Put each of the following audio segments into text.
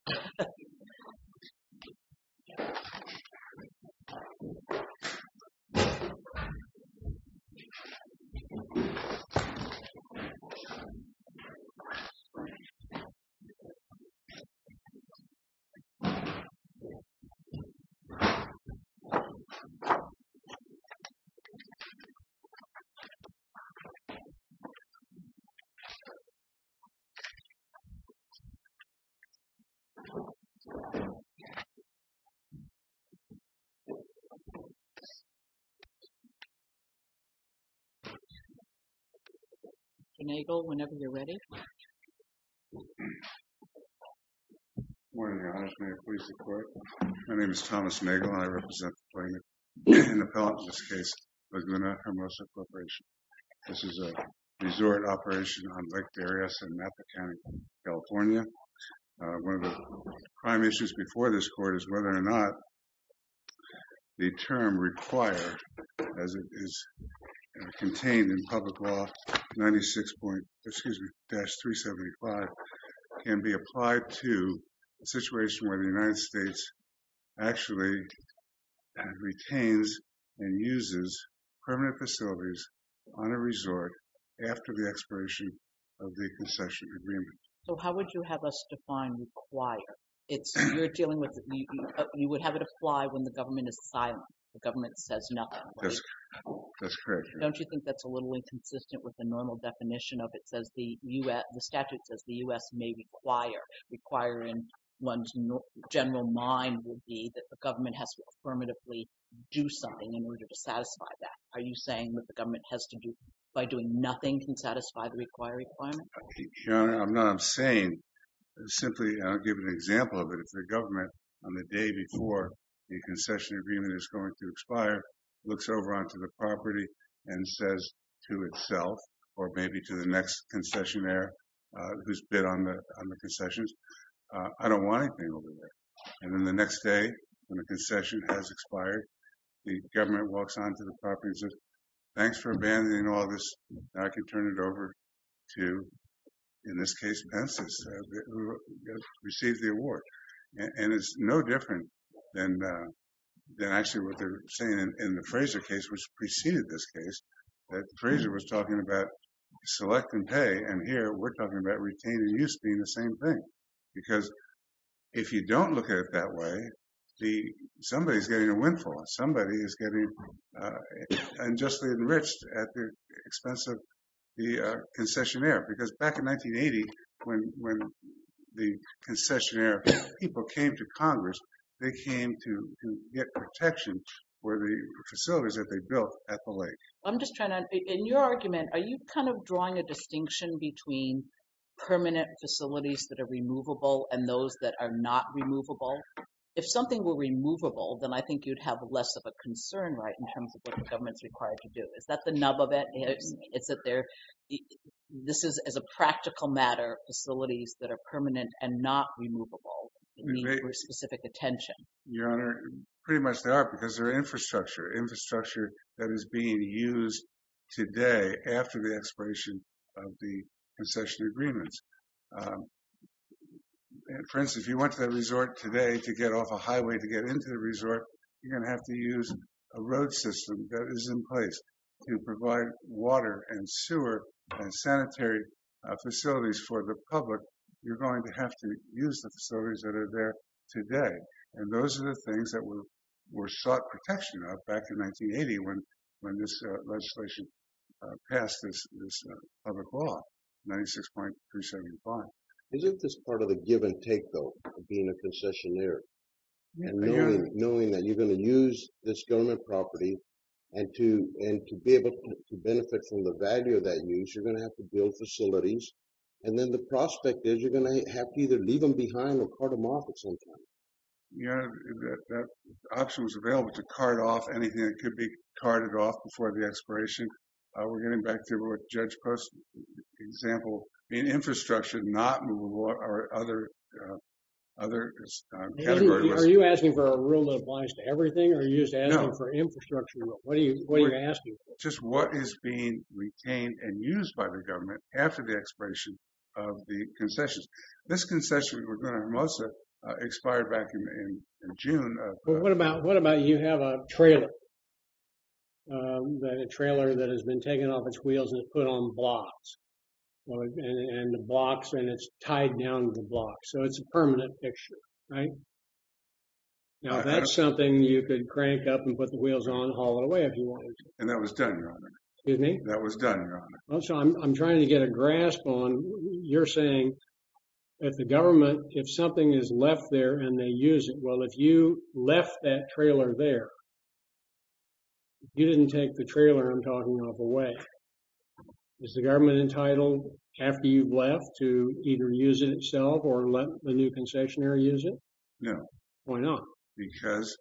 So we were sitting downtown and we were like, why don't you never open it now? So, it's kind of the story is that, when the fire department is doing this they're not just running five or six units on the fifth and last day, but five, six units we're taken over, it's like, what the hell no, and I think that's really the story of my justice movement. So I just sort of hung it all together and I think that's really the story of my justice movement. Mr. Nagel, whenever you're ready. Morning Your Honor, may it please the court. My name is Thomas Nagel and I represent the plaintiff in the Pelham's case, Laguna Hermosa Corporation. This is a resort operation on Lake Darius in Napa County, California. One of the prime issues before this court is whether or not the term required as it is contained in public law 96 point, excuse me, dash 375 can be applied to a situation where the United States actually retains and uses permanent facilities on a resort after the expiration of the concession agreement. So how would you have us define require? It's, you're dealing with, you would have it apply when the government is silent, the government says nothing. That's correct, Your Honor. Don't you think that's a little inconsistent with the normal definition of it says the U.S., the statute says the U.S. may require, requiring one's general mind would be that the government has to affirmatively do something in order to satisfy that. Are you saying that the government has to do by doing nothing can satisfy the require requirement? Your Honor, I'm not saying, simply I'll give an example of it. If the government on the day before the concession agreement is going to expire, looks over onto the property and says to itself, or maybe to the next concessionaire who's bid on the concessions, I don't want anything over there. And then the next day, when the concession has expired, the government walks onto the property and says, thanks for abandoning all this. I can turn it over to, in this case, Pence's who received the award. And it's no different than actually what they're saying in the Fraser case, which preceded this case, that Fraser was talking about select and pay. And here we're talking about retained and use being the same thing. Because if you don't look at it that way, somebody is getting a windfall. Somebody is getting unjustly enriched at the expense of the concessionaire. Because back in 1980, when the concessionaire people came to Congress, they came to get protection for the facilities that they built at the lake. I'm just trying to, in your argument, are you kind of drawing a distinction between permanent facilities that are removable and those that are not removable? If something were removable, then I think you'd have less of a concern, right, in terms of what the government's required to do. Is that the nub of it? It's that this is, as a practical matter, facilities that are permanent and not removable in need for specific attention. Your Honor, pretty much they are because they're infrastructure. Infrastructure that is being used today after the expiration of the concessionary agreements. For instance, if you went to the resort today to get off a highway to get into the resort, you're gonna have to use a road system that is in place to provide water and sewer and sanitary facilities for the public. You're going to have to use the facilities that are there today. And those are the things that were sought protection of back in 1980 when this legislation passed this public law, 96.375. Is it this part of the give and take, though, being a concessionaire? Your Honor. Knowing that you're gonna use this government property and to be able to benefit from the value of that use, you're gonna have to build facilities. And then the prospect is you're gonna have to either leave them behind or cart them off at some time. Your Honor, if that option was available to cart off anything that could be carted off before the expiration, we're getting back to what Judge Post's example, being infrastructure not movable or other category. Are you asking for a rule that applies to everything or are you just asking for infrastructure? What are you asking for? Just what is being retained and used by the government after the expiration of the concessions. This concession, we're going to most of it, expired back in June. Well, what about you have a trailer, a trailer that has been taken off its wheels and put on blocks? And the blocks and it's tied down to the blocks. So it's a permanent picture, right? Now that's something you could crank up and put the wheels on and haul it away if you wanted to. And that was done, Your Honor. Excuse me? That was done, Your Honor. I'm trying to get a grasp on, you're saying that the government, if something is left there and they use it, well, if you left that trailer there, you didn't take the trailer I'm talking of away. Is the government entitled after you've left to either use it itself or let the new concessionary use it? No. Why not? Because.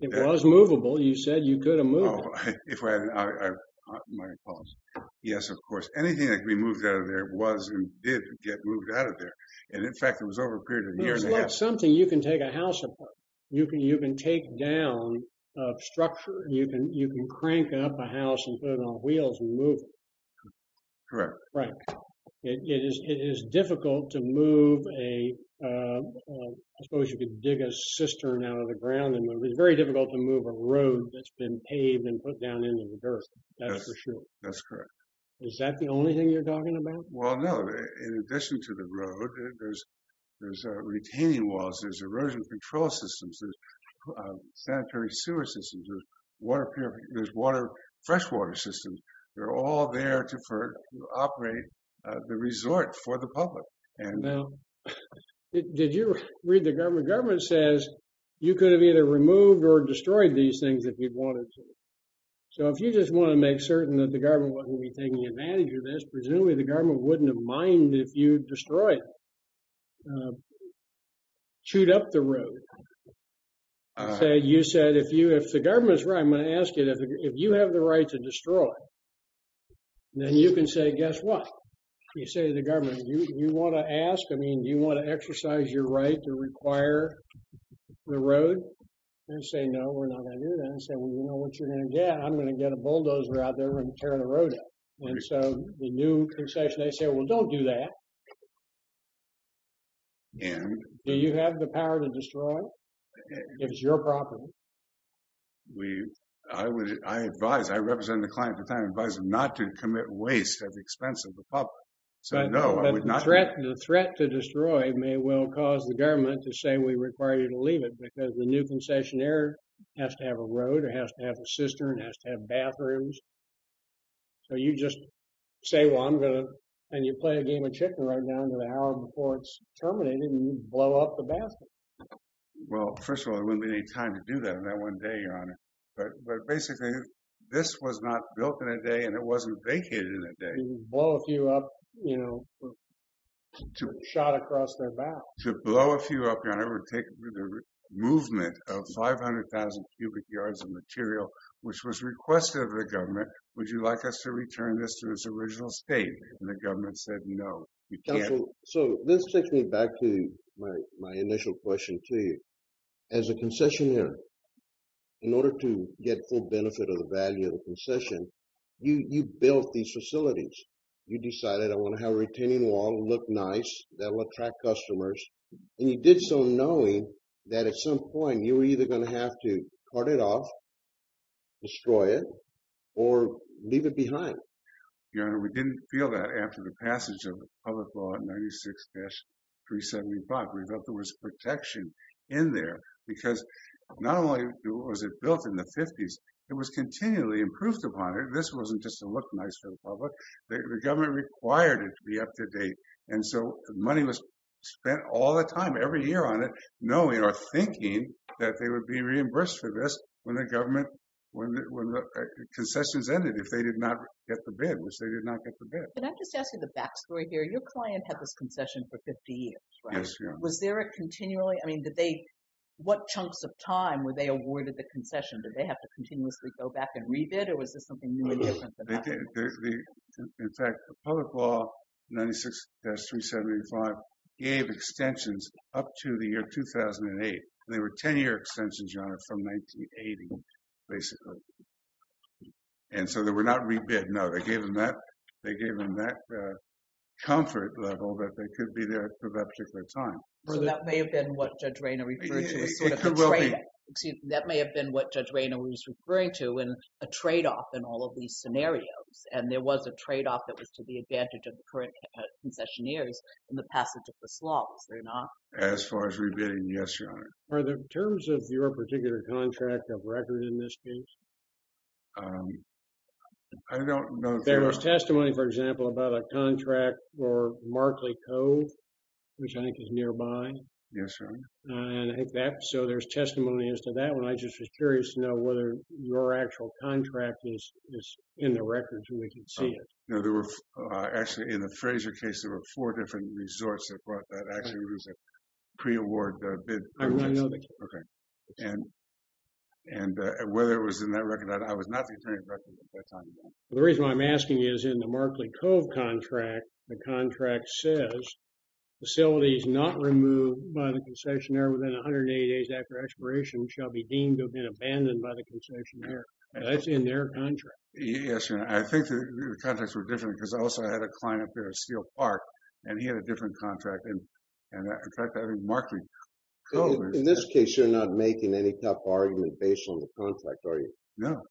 It was movable. You said you could have moved it. If I, my apologies. Yes, of course. Anything that can be moved out of there was and did get moved out of there. And in fact, it was over a period of a year and a half. It's like something you can take a house apart. You can take down a structure. You can crank up a house and put it on wheels and move it. Correct. Right. It is difficult to move a, I suppose you could dig a cistern out of the ground. And it's very difficult to move a road that's been paved and put down into the dirt. That's for sure. That's correct. Is that the only thing you're talking about? Well, no. In addition to the road, there's retaining walls, there's erosion control systems, there's sanitary sewer systems, there's water, freshwater systems. They're all there to operate the resort for the public. Did you read the government? Government says you could have either removed or destroyed these things if you'd wanted to. So if you just want to make certain that the government wasn't going to be taking advantage of this, presumably the government wouldn't have mined if you'd destroyed, chewed up the road. You said, if the government's right, I'm going to ask you, if you have the right to destroy, then you can say, guess what? You say to the government, you want to ask, I mean, do you want to exercise your right to require the road? And they say, no, we're not going to do that. And you say, well, you know what you're going to get? I'm going to get a bulldozer out there and tear the road up. And so the new concession, they say, well, don't do that. And do you have the power to destroy if it's your property? We, I would, I advise, I represent the client at the time, advise them not to commit waste at the expense of the public. So no, I would not. The threat to destroy may well cause the government to say we require you to leave it because the new concessionaire has to have a road or has to have a cistern, has to have bathrooms. So you just say, well, I'm going to, and you play a game of chicken right now until the hour before it's terminated and you blow up the bathroom. Well, first of all, there wouldn't be any time to do that in that one day, Your Honor. But basically, this was not built in a day and it wasn't vacated in a day. Blow a few up, you know, shot across their back. To blow a few up, Your Honor, would take the movement of 500,000 cubic yards of material, which was requested of the government. Would you like us to return this to its original state? And the government said, no, you can't. So this takes me back to my initial question to you. As a concessionaire, in order to get full benefit of the value of the concession, you built these facilities. You decided, I want to have a retaining wall, look nice, that'll attract customers. And you did so knowing that at some point you were either going to have to cart it off, destroy it, or leave it behind. Your Honor, we didn't feel that after the passage of the public law 96-375. We felt there was protection in there because not only was it built in the 50s, it was continually improved upon it. This wasn't just to look nice for the public. The government required it to be up to date. And so money was spent all the time, every year on it, knowing or thinking that they would be reimbursed for this when the government, when the concessions ended, if they did not get the bid, which they did not get the bid. And I'm just asking the backstory here. Your client had this concession for 50 years, right? Yes, Your Honor. Was there a continually, I mean, did they, what chunks of time were they awarded the concession? Did they have to continuously go back and re-bid, or was this something new and different than that? In fact, the public law 96-375 gave extensions up to the year 2008. They were 10-year extensions, Your Honor, from 1980, basically. And so they were not re-bid, no. They gave them that comfort level that they could be there for that particular time. Well, that may have been what Judge Rayner referred to as sort of a trade-off. That may have been what Judge Rayner was referring to in a trade-off in all of these scenarios. And there was a trade-off that was to the advantage of the current concessionaires in the passage of this law. Was there not? As far as re-bidding, yes, Your Honor. Are the terms of your particular contract of record in this case? I don't know. There was testimony, for example, about a contract for Markley Cove, which I think is nearby. Yes, Your Honor. And I think that, so there's testimony as to that one. I just was curious to know whether your actual contract is in the records, and we can see it. No, there were, actually, in the Fraser case, there were four different resorts that brought that. Actually, it was a pre-award bid. I want to know the case. Okay. And whether it was in that record. I was not the attorney of record at that time. The reason why I'm asking is, in the Markley Cove contract, the contract says, facilities not removed by the concessionaire within 180 days after expiration shall be deemed to have been abandoned by the concessionaire. That's in their contract. Yes, Your Honor. I think the contracts were different, because I also had a client up there at Steel Park, and he had a different contract. And, in fact, I think Markley Cove is- In this case, you're not making any tough argument based on the contract, are you? No.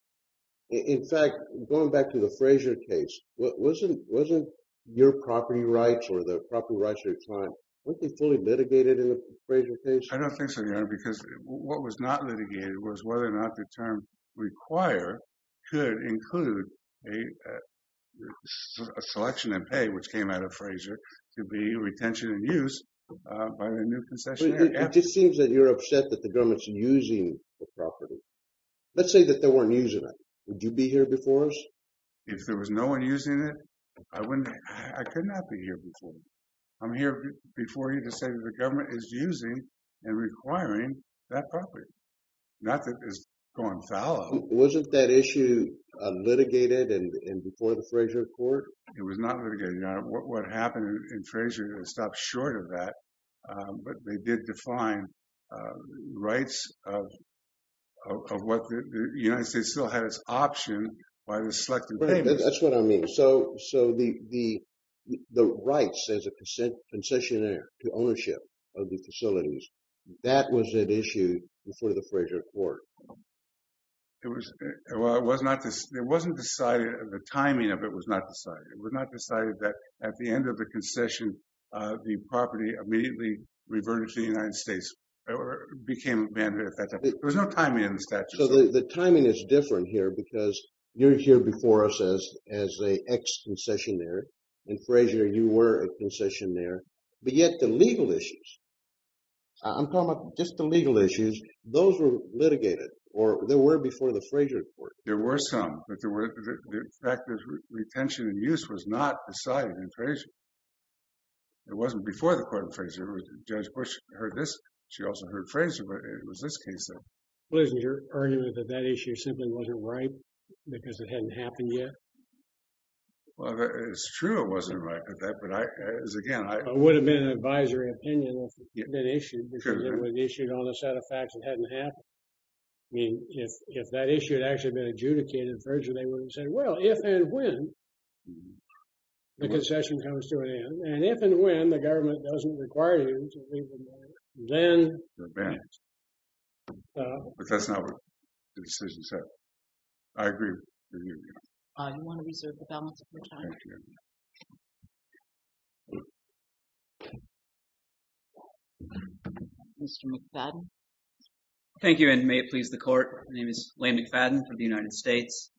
In fact, going back to the Fraser case, wasn't your property rights, or the property rights of your client, weren't they fully litigated in the Fraser case? I don't think so, Your Honor, because what was not litigated was whether or not the term require could include a selection and pay, which came out of Fraser, to be retention and use by the new concessionaire. It just seems that you're upset that the government's using the property. Let's say that they weren't using it. Would you be here before us? If there was no one using it, I wouldn't, I could not be here before you. I'm here before you to say that the government is using and requiring that property, not that it's gone fallow. Wasn't that issue litigated before the Fraser court? It was not litigated, Your Honor. What happened in Fraser, it stopped short of that, but they did define rights of what the United States still had as option by the select and payment. That's what I mean. So the rights as a concessionaire to ownership of the facilities, that was an issue before the Fraser court. It wasn't decided, the timing of it was not decided. It was not decided that at the end of the concession, the property immediately reverted to the United States or became a manhood effect. There was no timing in the statute. The timing is different here because you're here before us as a ex-concessionaire. In Fraser, you were a concessionaire, but yet the legal issues, I'm talking about just the legal issues, those were litigated or there were before the Fraser court. There were some, but the fact that retention and use was not decided in Fraser. It wasn't before the court in Fraser. Judge Bush heard this. She also heard Fraser, but it was this case then. Well, isn't your argument that that issue simply wasn't right because it hadn't happened yet? Well, it's true it wasn't right, but as again, I- It would have been an advisory opinion if it had been issued because it would have issued on a set of facts that hadn't happened. I mean, if that issue had actually been adjudicated well, if and when the concession comes to an end, and if and when the government doesn't require you to leave the bank, then- The bank. But that's not what the decision said. I agree with you. I want to reserve the balance of your time. Thank you. Mr. McFadden. Thank you, and may it please the court. My name is Lane McFadden from the United States.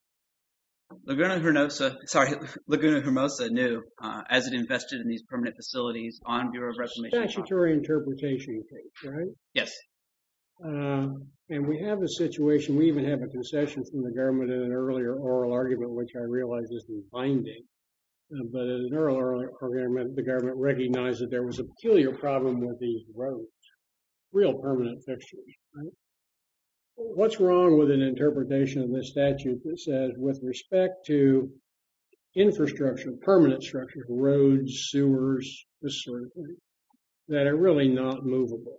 Laguna Hermosa, sorry, Laguna Hermosa knew as it invested in these permanent facilities on Bureau of Reclamation property. Statutory interpretation case, right? Yes. And we have a situation, we even have a concession from the government in an earlier oral argument which I realize is the binding, but in an earlier oral argument, the government recognized that there was a peculiar problem with the road, real permanent fixtures, right? What's wrong with an interpretation of this statute that says with respect to infrastructure, permanent structures, roads, sewers, this sort of thing, that are really not movable.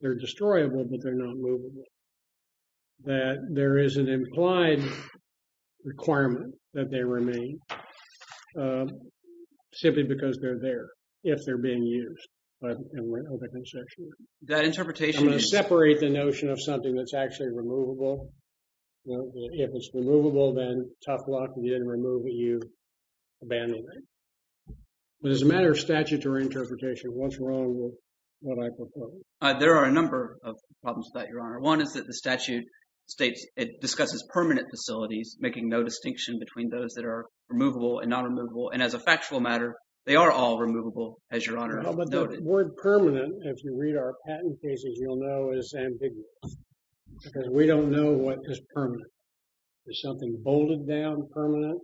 They're destroyable, but they're not movable. That there is an implied requirement that they remain simply because they're there, if they're being used, but in the concession. That interpretation is- I'm going to separate the notion of something that's actually removable. If it's removable, then tough luck, and you didn't remove it, you abandoned it. But as a matter of statutory interpretation, what's wrong with what I propose? There are a number of problems with that, Your Honor. One is that the statute states, it discusses permanent facilities, making no distinction between those that are removable and non-removable. And as a factual matter, they are all removable, as Your Honor has noted. No, but the word permanent, if you read our patent cases, you'll know is ambiguous. Because we don't know what is permanent. Is something bolted down permanent?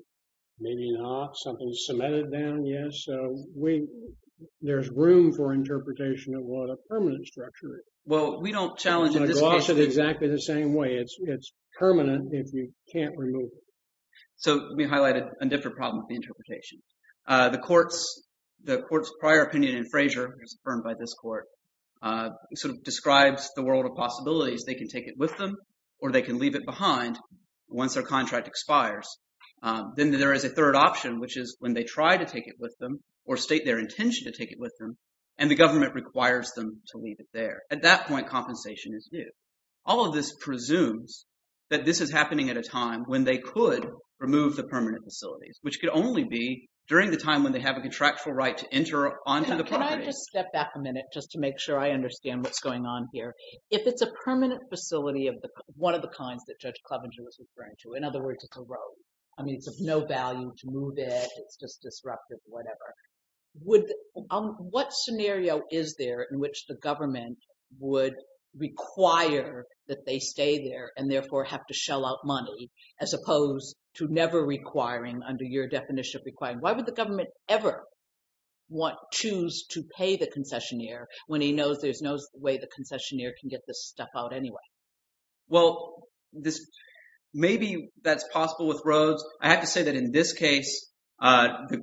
Maybe not. Something's cemented down, yes. So, there's room for interpretation of what a permanent structure is. Well, we don't challenge- And I gloss it exactly the same way. It's permanent if you can't remove it. So, we highlighted a different problem with the interpretation. The court's prior opinion in Frazier, it was affirmed by this court, sort of describes the world of possibilities. They can take it with them, or they can leave it behind once their contract expires. Then there is a third option, which is when they try to take it with them, or state their intention to take it with them, and the government requires them to leave it there. At that point, compensation is due. All of this presumes that this is happening at a time when they could remove the permanent facilities, which could only be during the time when they have a contractual right to enter onto the property. Can I just step back a minute, just to make sure I understand what's going on here? If it's a permanent facility of one of the kinds that Judge Clovenger was referring to, in other words, it's a road. I mean, it's of no value to move it. It's just disruptive, whatever. What scenario is there in which the government would require that they stay there, and therefore have to shell out money, as opposed to never requiring under your definition of requiring? Why would the government ever choose to pay the concessionaire when he knows there's no way the concessionaire can get this stuff out anyway? Well, maybe that's possible with roads. I have to say that in this case, the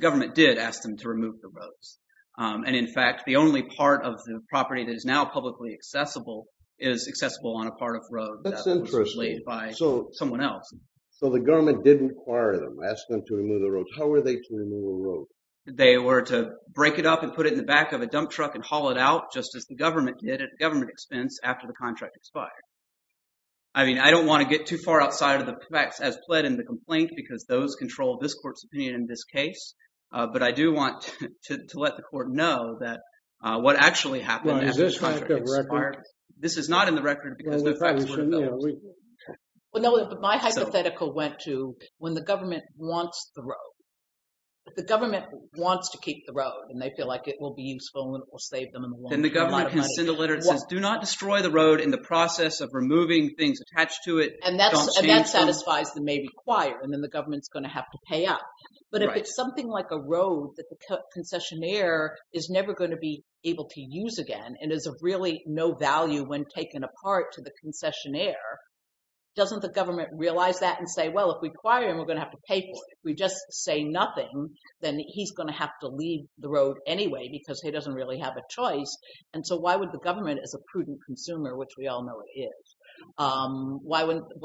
government did ask them to remove the roads. And in fact, the only part of the property that is now publicly accessible is accessible on a part of road that was laid by someone else. So the government did require them, ask them to remove the roads. How were they to remove the roads? They were to break it up and put it in the back of a dump truck and haul it out, just as the government did at government expense after the contract expired. I mean, I don't want to get too far outside of the facts as pled in the complaint, because those control this court's opinion in this case. But I do want to let the court know that what actually happened after the contract expired, this is not in the record because no facts were available. Well, no, but my hypothetical went to when the government wants the road. If the government wants to keep the road and they feel like it will be useful and it will save them a lot of money. Then the government can send a letter that says, do not destroy the road in the process of removing things attached to it. And that satisfies the maybe choir, and then the government's going to have to pay up. But if it's something like a road that the concessionaire is never going to be able to use again, and is of really no value when taken apart to the concessionaire, doesn't the government realize that and say, well, if we choir him, we're going to have to pay for it. If we just say nothing, then he's going to have to leave the road anyway, because he doesn't really have a choice. And so why would the government as a prudent consumer, which we all know it is, why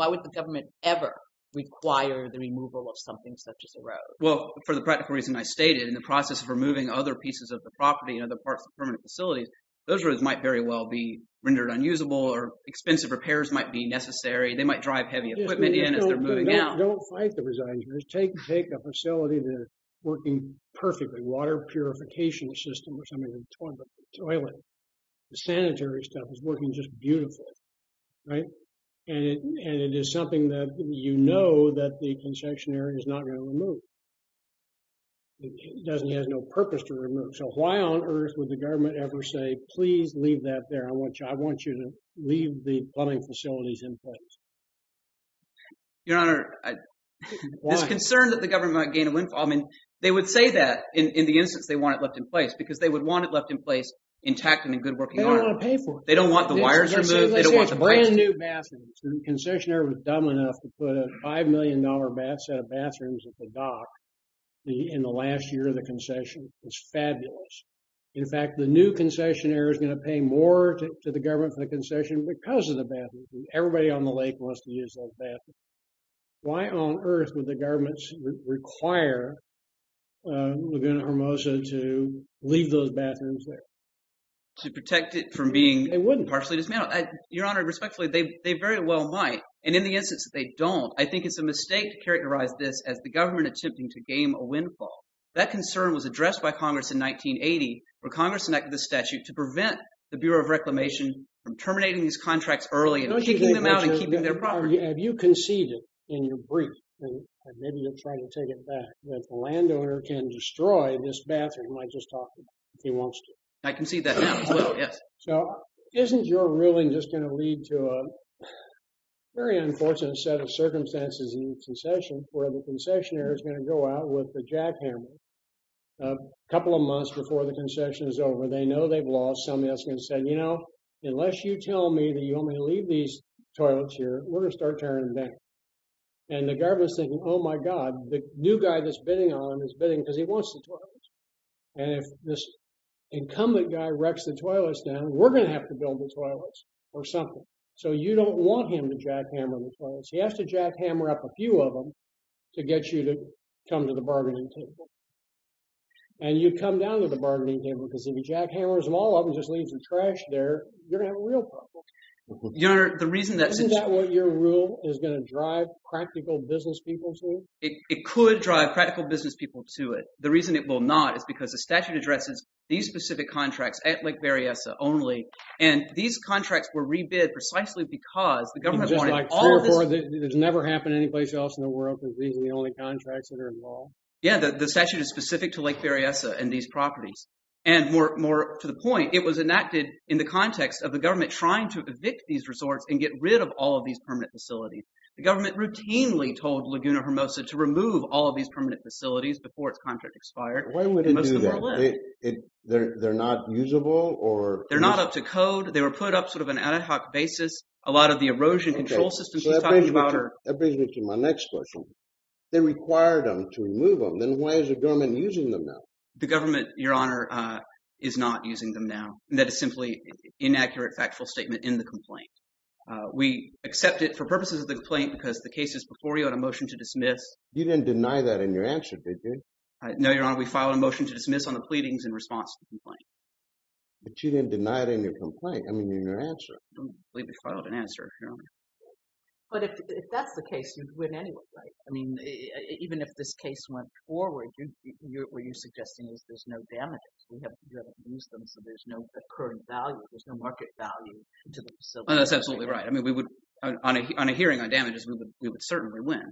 would the government ever require the removal of something such as a road? Well, for the practical reason I stated in the process of removing other pieces of the property and other parts of permanent facilities, those roads might very well be rendered unusable or expensive repairs might be necessary. They might drive heavy equipment in as they're moving out. Don't fight the resigns. Take a facility that is working perfectly, water purification system or something, a toilet, the sanitary stuff is working just beautifully. And it is something that you know that the concessionaire is not going to remove. It doesn't have no purpose to remove. So why on earth would the government ever say, please leave that there. I want you to leave the plumbing facilities in place. Your Honor, there's concern that the government might gain a windfall. I mean, they would say that in the instance they want it left in place because they would want it left in place intact and in good working order. They don't want to pay for it. They don't want the wires removed. They don't want the price. Brand new bathrooms. The concessionaire was dumb enough to put a $5 million set of bathrooms at the dock in the last year of the concession. It's fabulous. In fact, the new concessionaire is going to pay more to the government for the concession because of the bathrooms. Everybody on the lake wants to use those bathrooms. Why on earth would the government require Laguna Hermosa to leave those bathrooms there? To protect it from being partially dismantled. Your Honor, respectfully, they very well might. And in the instance that they don't, I think it's a mistake to characterize this as the government attempting to gain a windfall. That concern was addressed by Congress in 1980 when Congress enacted the statute to prevent the Bureau of Reclamation from terminating these contracts early and kicking them out and keeping their property. Have you conceded in your brief, and maybe you'll try to take it back, that the landowner can destroy this bathroom I just talked about if he wants to? I concede that now, yes. So isn't your ruling just going to lead to a very unfortunate set of circumstances in the concession where the concessionaire is going to go out with the jackhammer a couple of months before the concession is over. They know they've lost. Somebody else is going to say, unless you tell me that you want me to leave these toilets here, we're going to start tearing them down. And the governor's thinking, oh my God, the new guy that's bidding on them is bidding because he wants the toilets. And if this incumbent guy wrecks the toilets down, we're going to have to build the toilets or something. So you don't want him to jackhammer the toilets. He has to jackhammer up a few of them to get you to come to the bargaining table. And you come down to the bargaining table because if he jackhammers them all up and just leaves the trash there, you're going to have a real problem. Isn't that what your rule is going to drive practical business people to? It could drive practical business people to it. The reason it will not is because the statute addresses these specific contracts at Lake Berryessa only. And these contracts were rebid precisely because the government wanted all of this. It's never happened anyplace else in the world because these are the only contracts that are involved? Yeah, the statute is specific to Lake Berryessa and these properties. And more to the point, it was enacted in the context of the government trying to evict these resorts and get rid of all of these permanent facilities. The government routinely told Laguna Hermosa to remove all of these permanent facilities before its contract expired. Why would it do that? They're not usable? They're not up to code. They were put up sort of an ad hoc basis. A lot of the erosion control systems she's talking about are- That brings me to my next question. They required them to remove them. Then why is the government using them now? The government, Your Honor, is not using them now. That is simply an inaccurate, factual statement in the complaint. We accept it for purposes of the complaint because the case is before you on a motion to dismiss. You didn't deny that in your answer, did you? No, Your Honor, we filed a motion to dismiss on the pleadings in response to the complaint. But you didn't deny it in your complaint. I mean, in your answer. I don't believe we filed an answer, Your Honor. But if that's the case, you'd win anyway, right? I mean, even if this case went forward, what you're suggesting is there's no damages. We haven't used them, so there's no current value. There's no market value to the facility. That's absolutely right. I mean, on a hearing on damages, we would certainly win.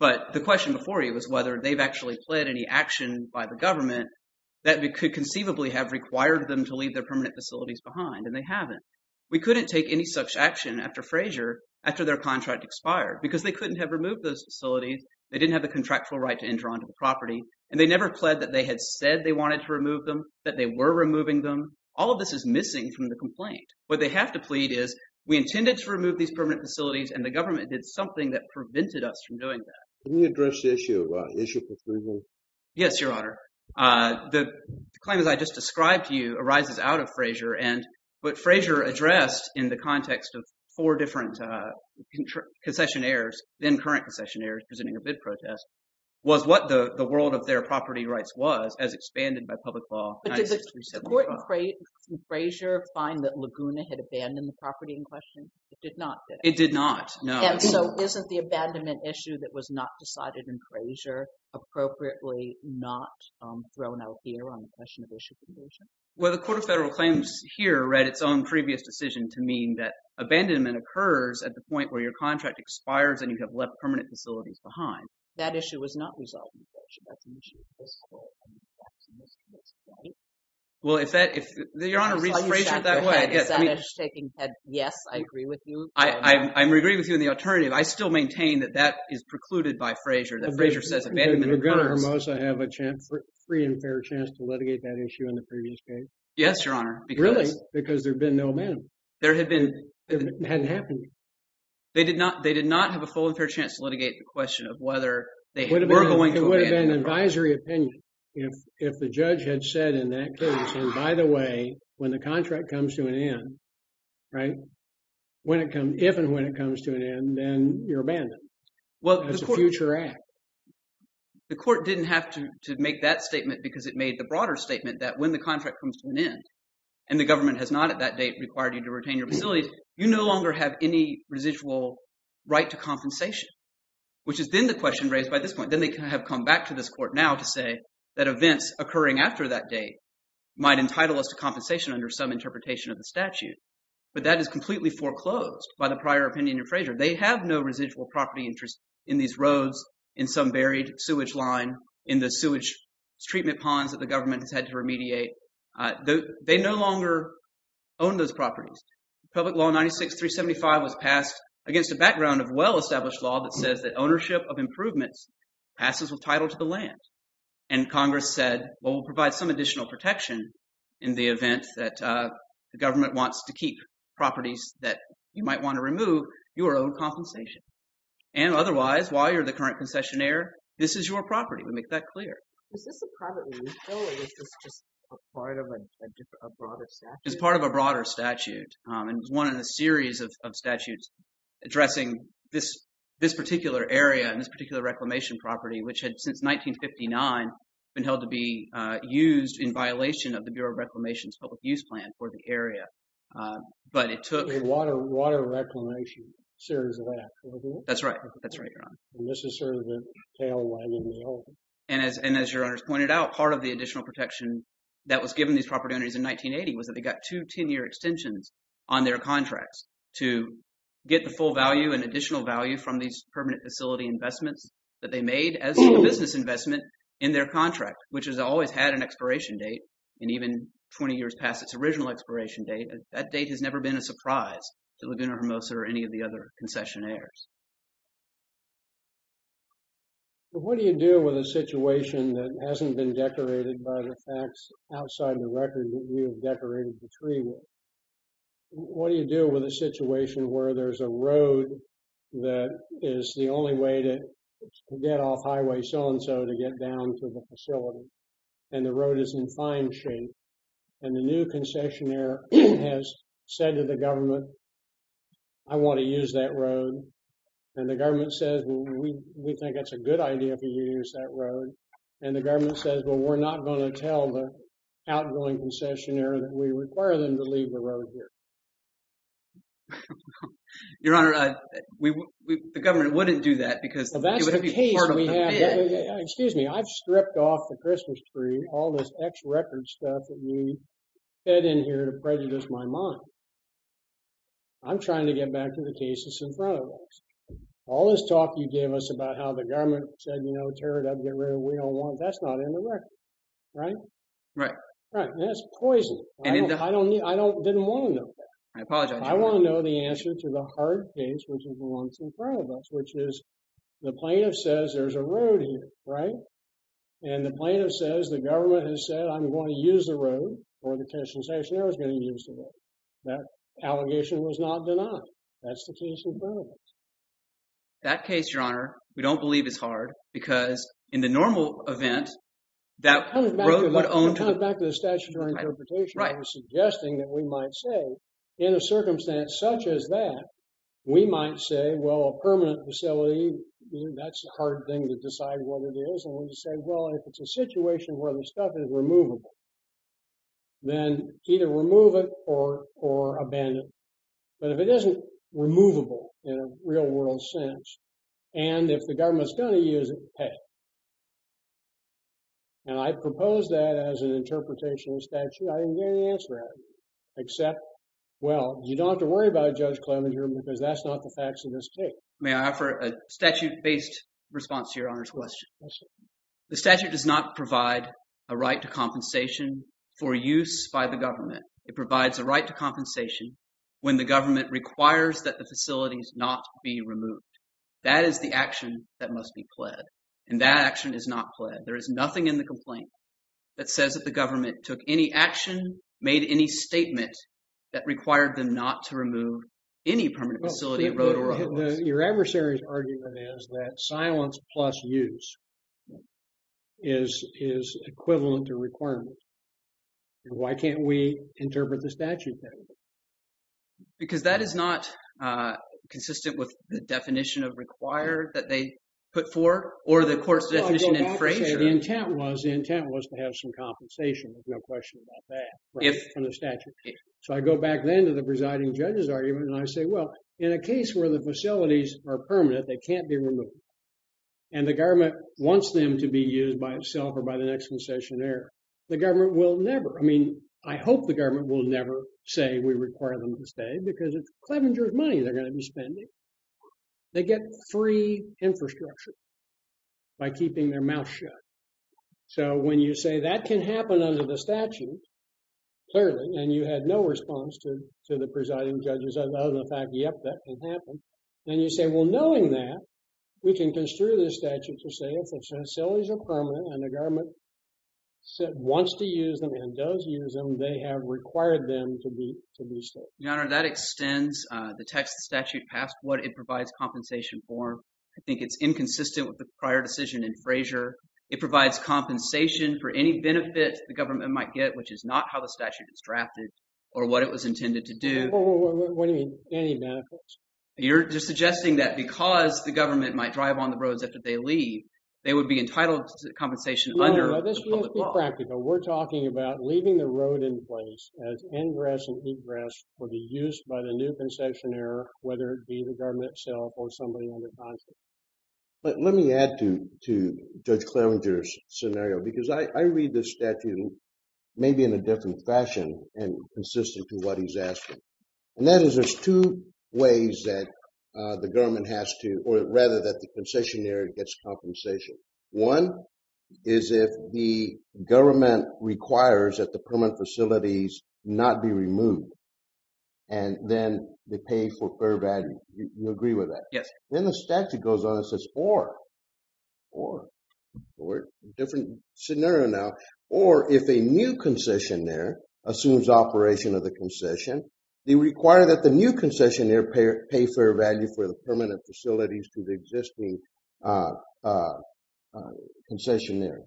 But the question before you was whether they've actually pled any action by the government that could conceivably have required them to leave their permanent facilities behind, and they haven't. We couldn't take any such action after Frazier, after their contract expired, because they couldn't have removed those facilities. They didn't have the contractual right to enter onto the property, and they never pled that they had said they wanted to remove them, that they were removing them. All of this is missing from the complaint. What they have to plead is, we intended to remove these permanent facilities, and the government did something that prevented us from doing that. Can you address the issue of issue for Frazier? Yes, Your Honor. The claim that I just described to you arises out of Frazier, but Frazier addressed in the context of four different concessionaires, then current concessionaires presenting a bid protest, was what the world of their property rights was, as expanded by public law. But did the court in Frazier find that Laguna had abandoned the property in question? It did not, did it? It did not, no. And so, isn't the abandonment issue that was not decided in Frazier appropriately not thrown out here on the question of issue for Frazier? Well, the Court of Federal Claims here read its own previous decision to mean that abandonment occurs at the point where your contract expires, and you have left permanent facilities behind. That issue was not resolved in Frazier. That's an issue of this Court, and the facts in this case, right? Well, if that, if, Your Honor, reach Frazier that way, I guess. I saw you shake your head. Is that a shaking head, yes, I agree with you? I'm agreeing with you in the alternative. I still maintain that that is precluded by Frazier, that Frazier says abandonment occurs. Did Laguna Hermosa have a free and fair chance to litigate that issue in the previous case? Yes, Your Honor, because. Really? Because there'd been no abandonment. There had been. It hadn't happened. They did not have a full and fair chance to litigate the question of whether they were going to abandon the property. It would have been an advisory opinion if the judge had said in that case, and by the way, when the contract comes to an end, right? When it comes, if and when it comes to an end, then you're abandoned. Well, the Court. That's a future act. The Court didn't have to make that statement because it made the broader statement that when the contract comes to an end, and the government has not at that date required you to retain your facilities, you no longer have any residual right to compensation, which has been the question raised by this point. Then they have come back to this Court now to say that events occurring after that date might entitle us to compensation under some interpretation of the statute, but that is completely foreclosed by the prior opinion in Frazier. They have no residual property interest in these roads, in some buried sewage line, in the sewage treatment ponds that the government has had to remediate. They no longer own those properties. Public Law 96-375 was passed against a background of well-established law that says that ownership of improvements passes with title to the land. And Congress said, well, we'll provide some additional protection in the event that the government wants to keep properties that you might want to remove, your own compensation. And otherwise, while you're the current concessionaire, this is your property. We make that clear. Is this a private rule, or is this just a part of a broader statute? It's part of a broader statute, and it's one in a series of statutes addressing this particular area and this particular reclamation property, which had, since 1959, been held to be used in violation of the Bureau of Reclamation's public use plan for the area. But it took- A water reclamation series of acts, correct? That's right, that's right, Your Honor. And this is sort of the tail wagging the elephant. And as Your Honors pointed out, part of the additional protection that was given these property owners in 1980 was that they got two 10-year extensions on their contracts to get the full value and additional value from these permanent facility investments that they made as a business investment in their contract, which has always had an expiration date. And even 20 years past its original expiration date, that date has never been a surprise to Laguna Hermosa or any of the other concessionaires. What do you do with a situation that hasn't been decorated by the facts outside of the record that you have decorated the tree with? What do you do with a situation where there's a road that is the only way to get off highway so-and-so to get down to the facility, and the road is in fine shape, and the new concessionaire has said to the government, I want to use that road, and the government says, well, we think it's a good idea for you to use that road, and the government says, well, we're not going to tell the outgoing concessionaire that we require them to leave the road here. Your Honor, the government wouldn't do that because it would be part of the plan. Excuse me, I've stripped off the Christmas tree, all this ex-record stuff that we fed in here to prejudice my mind. I'm trying to get back to the cases in front of us. All this talk you gave us about how the government said, you know, tear it up, get rid of it, we don't want it, that's not in the record, right? Right. Right, and that's poison. I didn't want to know that. I apologize, Your Honor. I want to know the answer to the hard case which belongs in front of us, which is the plaintiff says there's a road here, right? And the plaintiff says the government has said I'm going to use the road, or the concessionaire is going to use the road. That allegation was not denied. That's the case in front of us. That case, Your Honor, we don't believe is hard because in the normal event, that road would own to- It comes back to the statutory interpretation that you're suggesting that we might say in a circumstance such as that, we might say, well, a permanent facility, that's a hard thing to decide whether it is, and we just say, well, if it's a situation where the stuff is removable, then either remove it or abandon it. But if it isn't removable in a real world sense, and if the government's going to use it, pay. And I propose that as an interpretation of statute. I didn't get any answer out of it, except, well, you don't have to worry about Judge Clevenger because that's not the facts of this case. May I offer a statute-based response to Your Honor's question? The statute does not provide a right to compensation for use by the government. It provides a right to compensation when the government requires that the facilities not be removed. That is the action that must be pled. And that action is not pled. There is nothing in the complaint that says that the government took any action, made any statement that required them not to remove any permanent facility, road or office. Your adversary's argument is that silence plus use is equivalent to requirement. And why can't we interpret the statute that way? Because that is not consistent with the definition of require that they put for, or the court's definition in Frazier. The intent was to have some compensation. There's no question about that from the statute. So I go back then to the presiding judge's argument, and I say, well, in a case where the facilities are permanent, they can't be removed, and the government wants them to be used by itself or by the next concessionaire, the government will never. I mean, I hope the government will never say, we require them to stay, because it's Clevenger's money they're gonna be spending. They get free infrastructure by keeping their mouth shut. So when you say that can happen under the statute, clearly, and you had no response to the presiding judge's other than the fact, yep, that can happen. And you say, well, knowing that, we can construe the statute to say, if facilities are permanent, and the government wants to use them and does use them, then they have required them to be to be stayed. Your Honor, that extends the text of the statute past what it provides compensation for. I think it's inconsistent with the prior decision in Frazier. It provides compensation for any benefit the government might get, which is not how the statute is drafted, or what it was intended to do. What do you mean, any benefits? You're just suggesting that because the government might drive on the roads after they leave, they would be entitled to compensation under the public law. No, no, this is impractical. We're talking about leaving the road in place as ingress and egress for the use by the new concessionaire, whether it be the government itself or somebody on the consulate. But let me add to Judge Clarenger's scenario, because I read this statute maybe in a different fashion and consistent to what he's asking. And that is there's two ways that the government has to, or rather that the concessionaire gets compensation. One is if the government requires that the permanent facilities not be removed, and then they pay for fair value. You agree with that? Yes. Then the statute goes on and says, or, or, or, different scenario now. Or if a new concessionaire assumes operation of the concession, they require that the new concessionaire pay fair value for the permanent facilities to the existing concessionaire.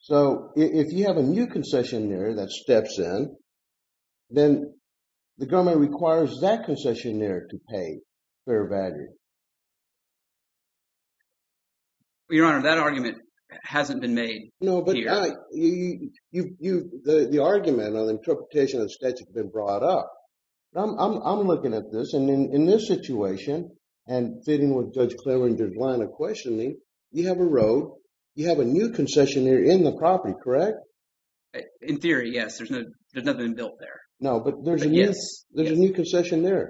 So if you have a new concessionaire that steps in, then the government requires that concessionaire to pay fair value. Your Honor, that argument hasn't been made. No, but the argument or the interpretation of the statute has been brought up. I'm looking at this and in this situation, and fitting with Judge Klaver and Judge Lana questioning, you have a road, you have a new concessionaire in the property, correct? In theory, yes. There's nothing built there. No, but there's a new concessionaire.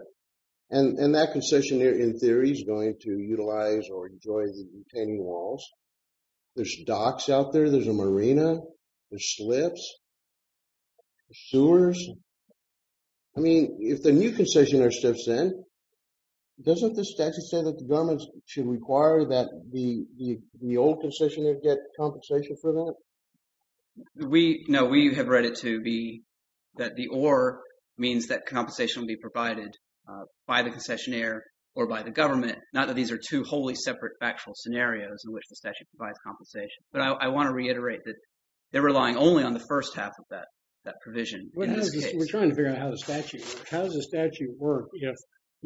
And that concessionaire in theory is going to utilize or enjoy the retaining walls. There's docks out there, there's a marina, there's slips, there's sewers. I mean, if the new concessionaire steps in, doesn't the statute say that the government should require that the old concessionaire get compensation for that? We, no, we have read it to be that the or means that compensation will be provided by the concessionaire or by the government. Not that these are two wholly separate factual scenarios in which the statute provides compensation. But I want to reiterate that they're relying only on the first half of that provision. We're trying to figure out how the statute works. If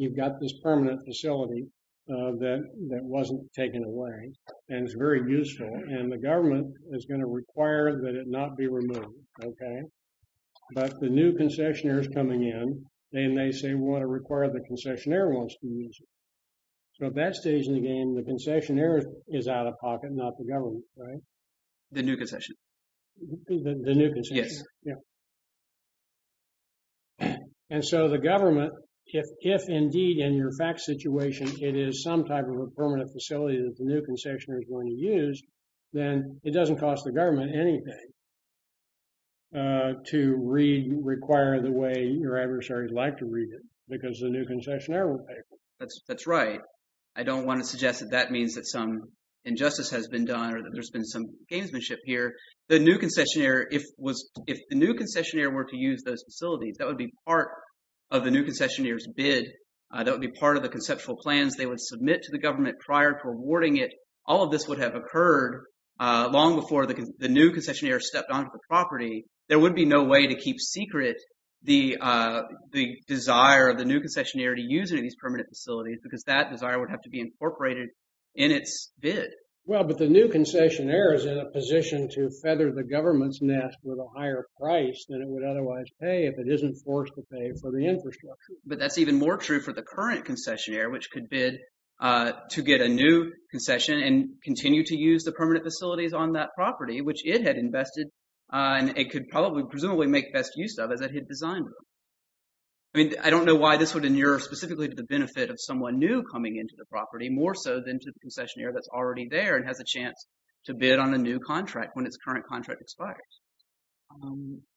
you've got this permanent facility that wasn't taken away, and it's very useful, and the government is going to require that it not be removed, okay? But the new concessionaire is coming in. They may say, we want to require the concessionaire wants to use it. So at that stage in the game, the concessionaire is out of pocket, The new concessionaire. The new concessionaire. Yes. Yeah. And so the government, if indeed in your fact situation, it is some type of a permanent facility that the new concessionaire is going to use, then it doesn't cost the government anything to read, require the way your adversaries like to read it, because the new concessionaire will pay for it. That's right. I don't want to suggest that that means that some injustice has been done or that there's been some gamesmanship here. The new concessionaire, if the new concessionaire were to use those facilities, that would be part of the new concessionaire's bid. That would be part of the conceptual plans they would submit to the government prior to awarding it. All of this would have occurred long before the new concessionaire stepped onto the property. There would be no way to keep secret the desire of the new concessionaire to use any of these permanent facilities, because that desire would have to be incorporated in its bid. Well, but the new concessionaire is in a position to feather the government's nest with a higher price than it would otherwise pay if it isn't forced to pay for the infrastructure. But that's even more true for the current concessionaire, which could bid to get a new concession and continue to use the permanent facilities on that property, which it had invested and it could probably, presumably, make best use of as it had designed it. I mean, I don't know why this would inure specifically to the benefit of someone new coming into the property, more so than to the concessionaire that's already there and has a chance to bid on a new contract when its current contract expires.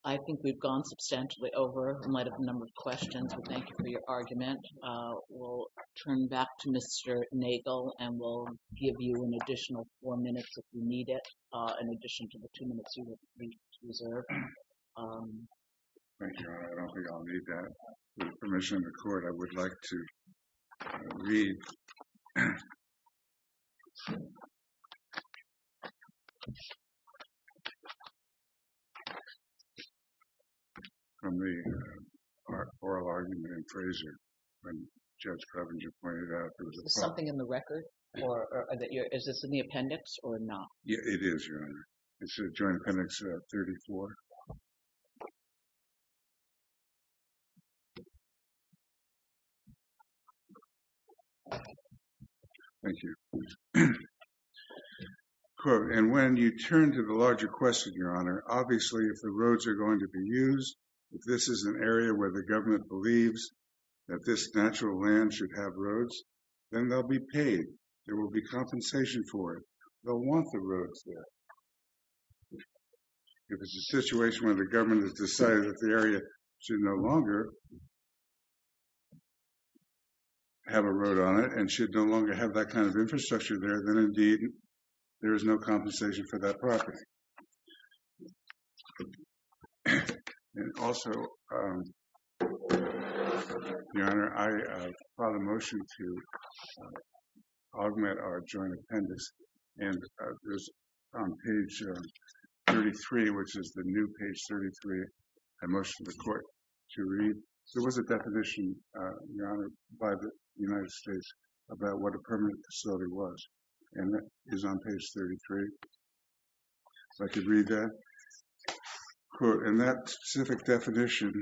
I think we've gone substantially over in light of the number of questions, so thank you for your argument. We'll turn back to Mr. Nagel and we'll give you an additional four minutes if you need it, in addition to the two minutes you would like to reserve. Thank you, I don't think I'll need that. With permission of the court, I would like to read. From the oral argument in Fraser, when Judge Covington pointed out there was a problem. Is this something in the record? Is this in the appendix or not? Yeah, it is, Your Honor. It's in Joint Appendix 34. Thank you. Quote, and when you turn to the larger question, Your Honor, obviously if the roads are going to be used, if this is an area where the government believes that this natural land should have roads, then they'll be paid. There will be compensation for it. They'll want the roads there. If it's a situation where the government has decided that the area should no longer have a road on it and should no longer have that kind of infrastructure there then indeed there is no compensation for that property. And also, Your Honor, I file a motion to augment our joint appendix. And there's on page 33, which is the new page 33, I motion to the court to read. There was a definition, Your Honor, by the United States about what a permanent facility was. And that is on page 33. So I could read that. Quote, and that specific definition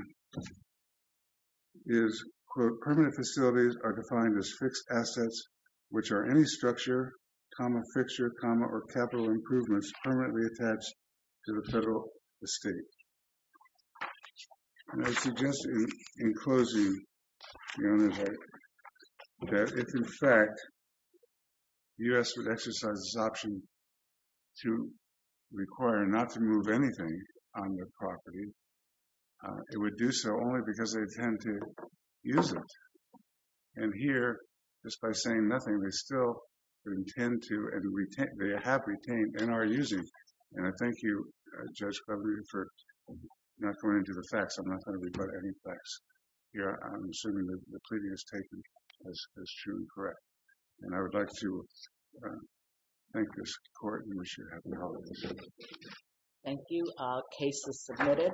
is, quote, permanent facilities are defined as fixed assets which are any structure, comma, fixture, comma, or capital improvements permanently attached to the federal estate. And I suggest in closing, Your Honor, that if in fact the U.S. would exercise this option to require not to move anything on the property, it would do so only because they intend to use it. And here, just by saying nothing, they still intend to and they have retained and are using. And I thank you, Judge Cleverly, for not going into the facts. I'm not going to rebut any facts here. I'm assuming that the pleading is taken as true and correct. And I would like to thank this court and wish you a happy holiday season. Thank you. Case is submitted.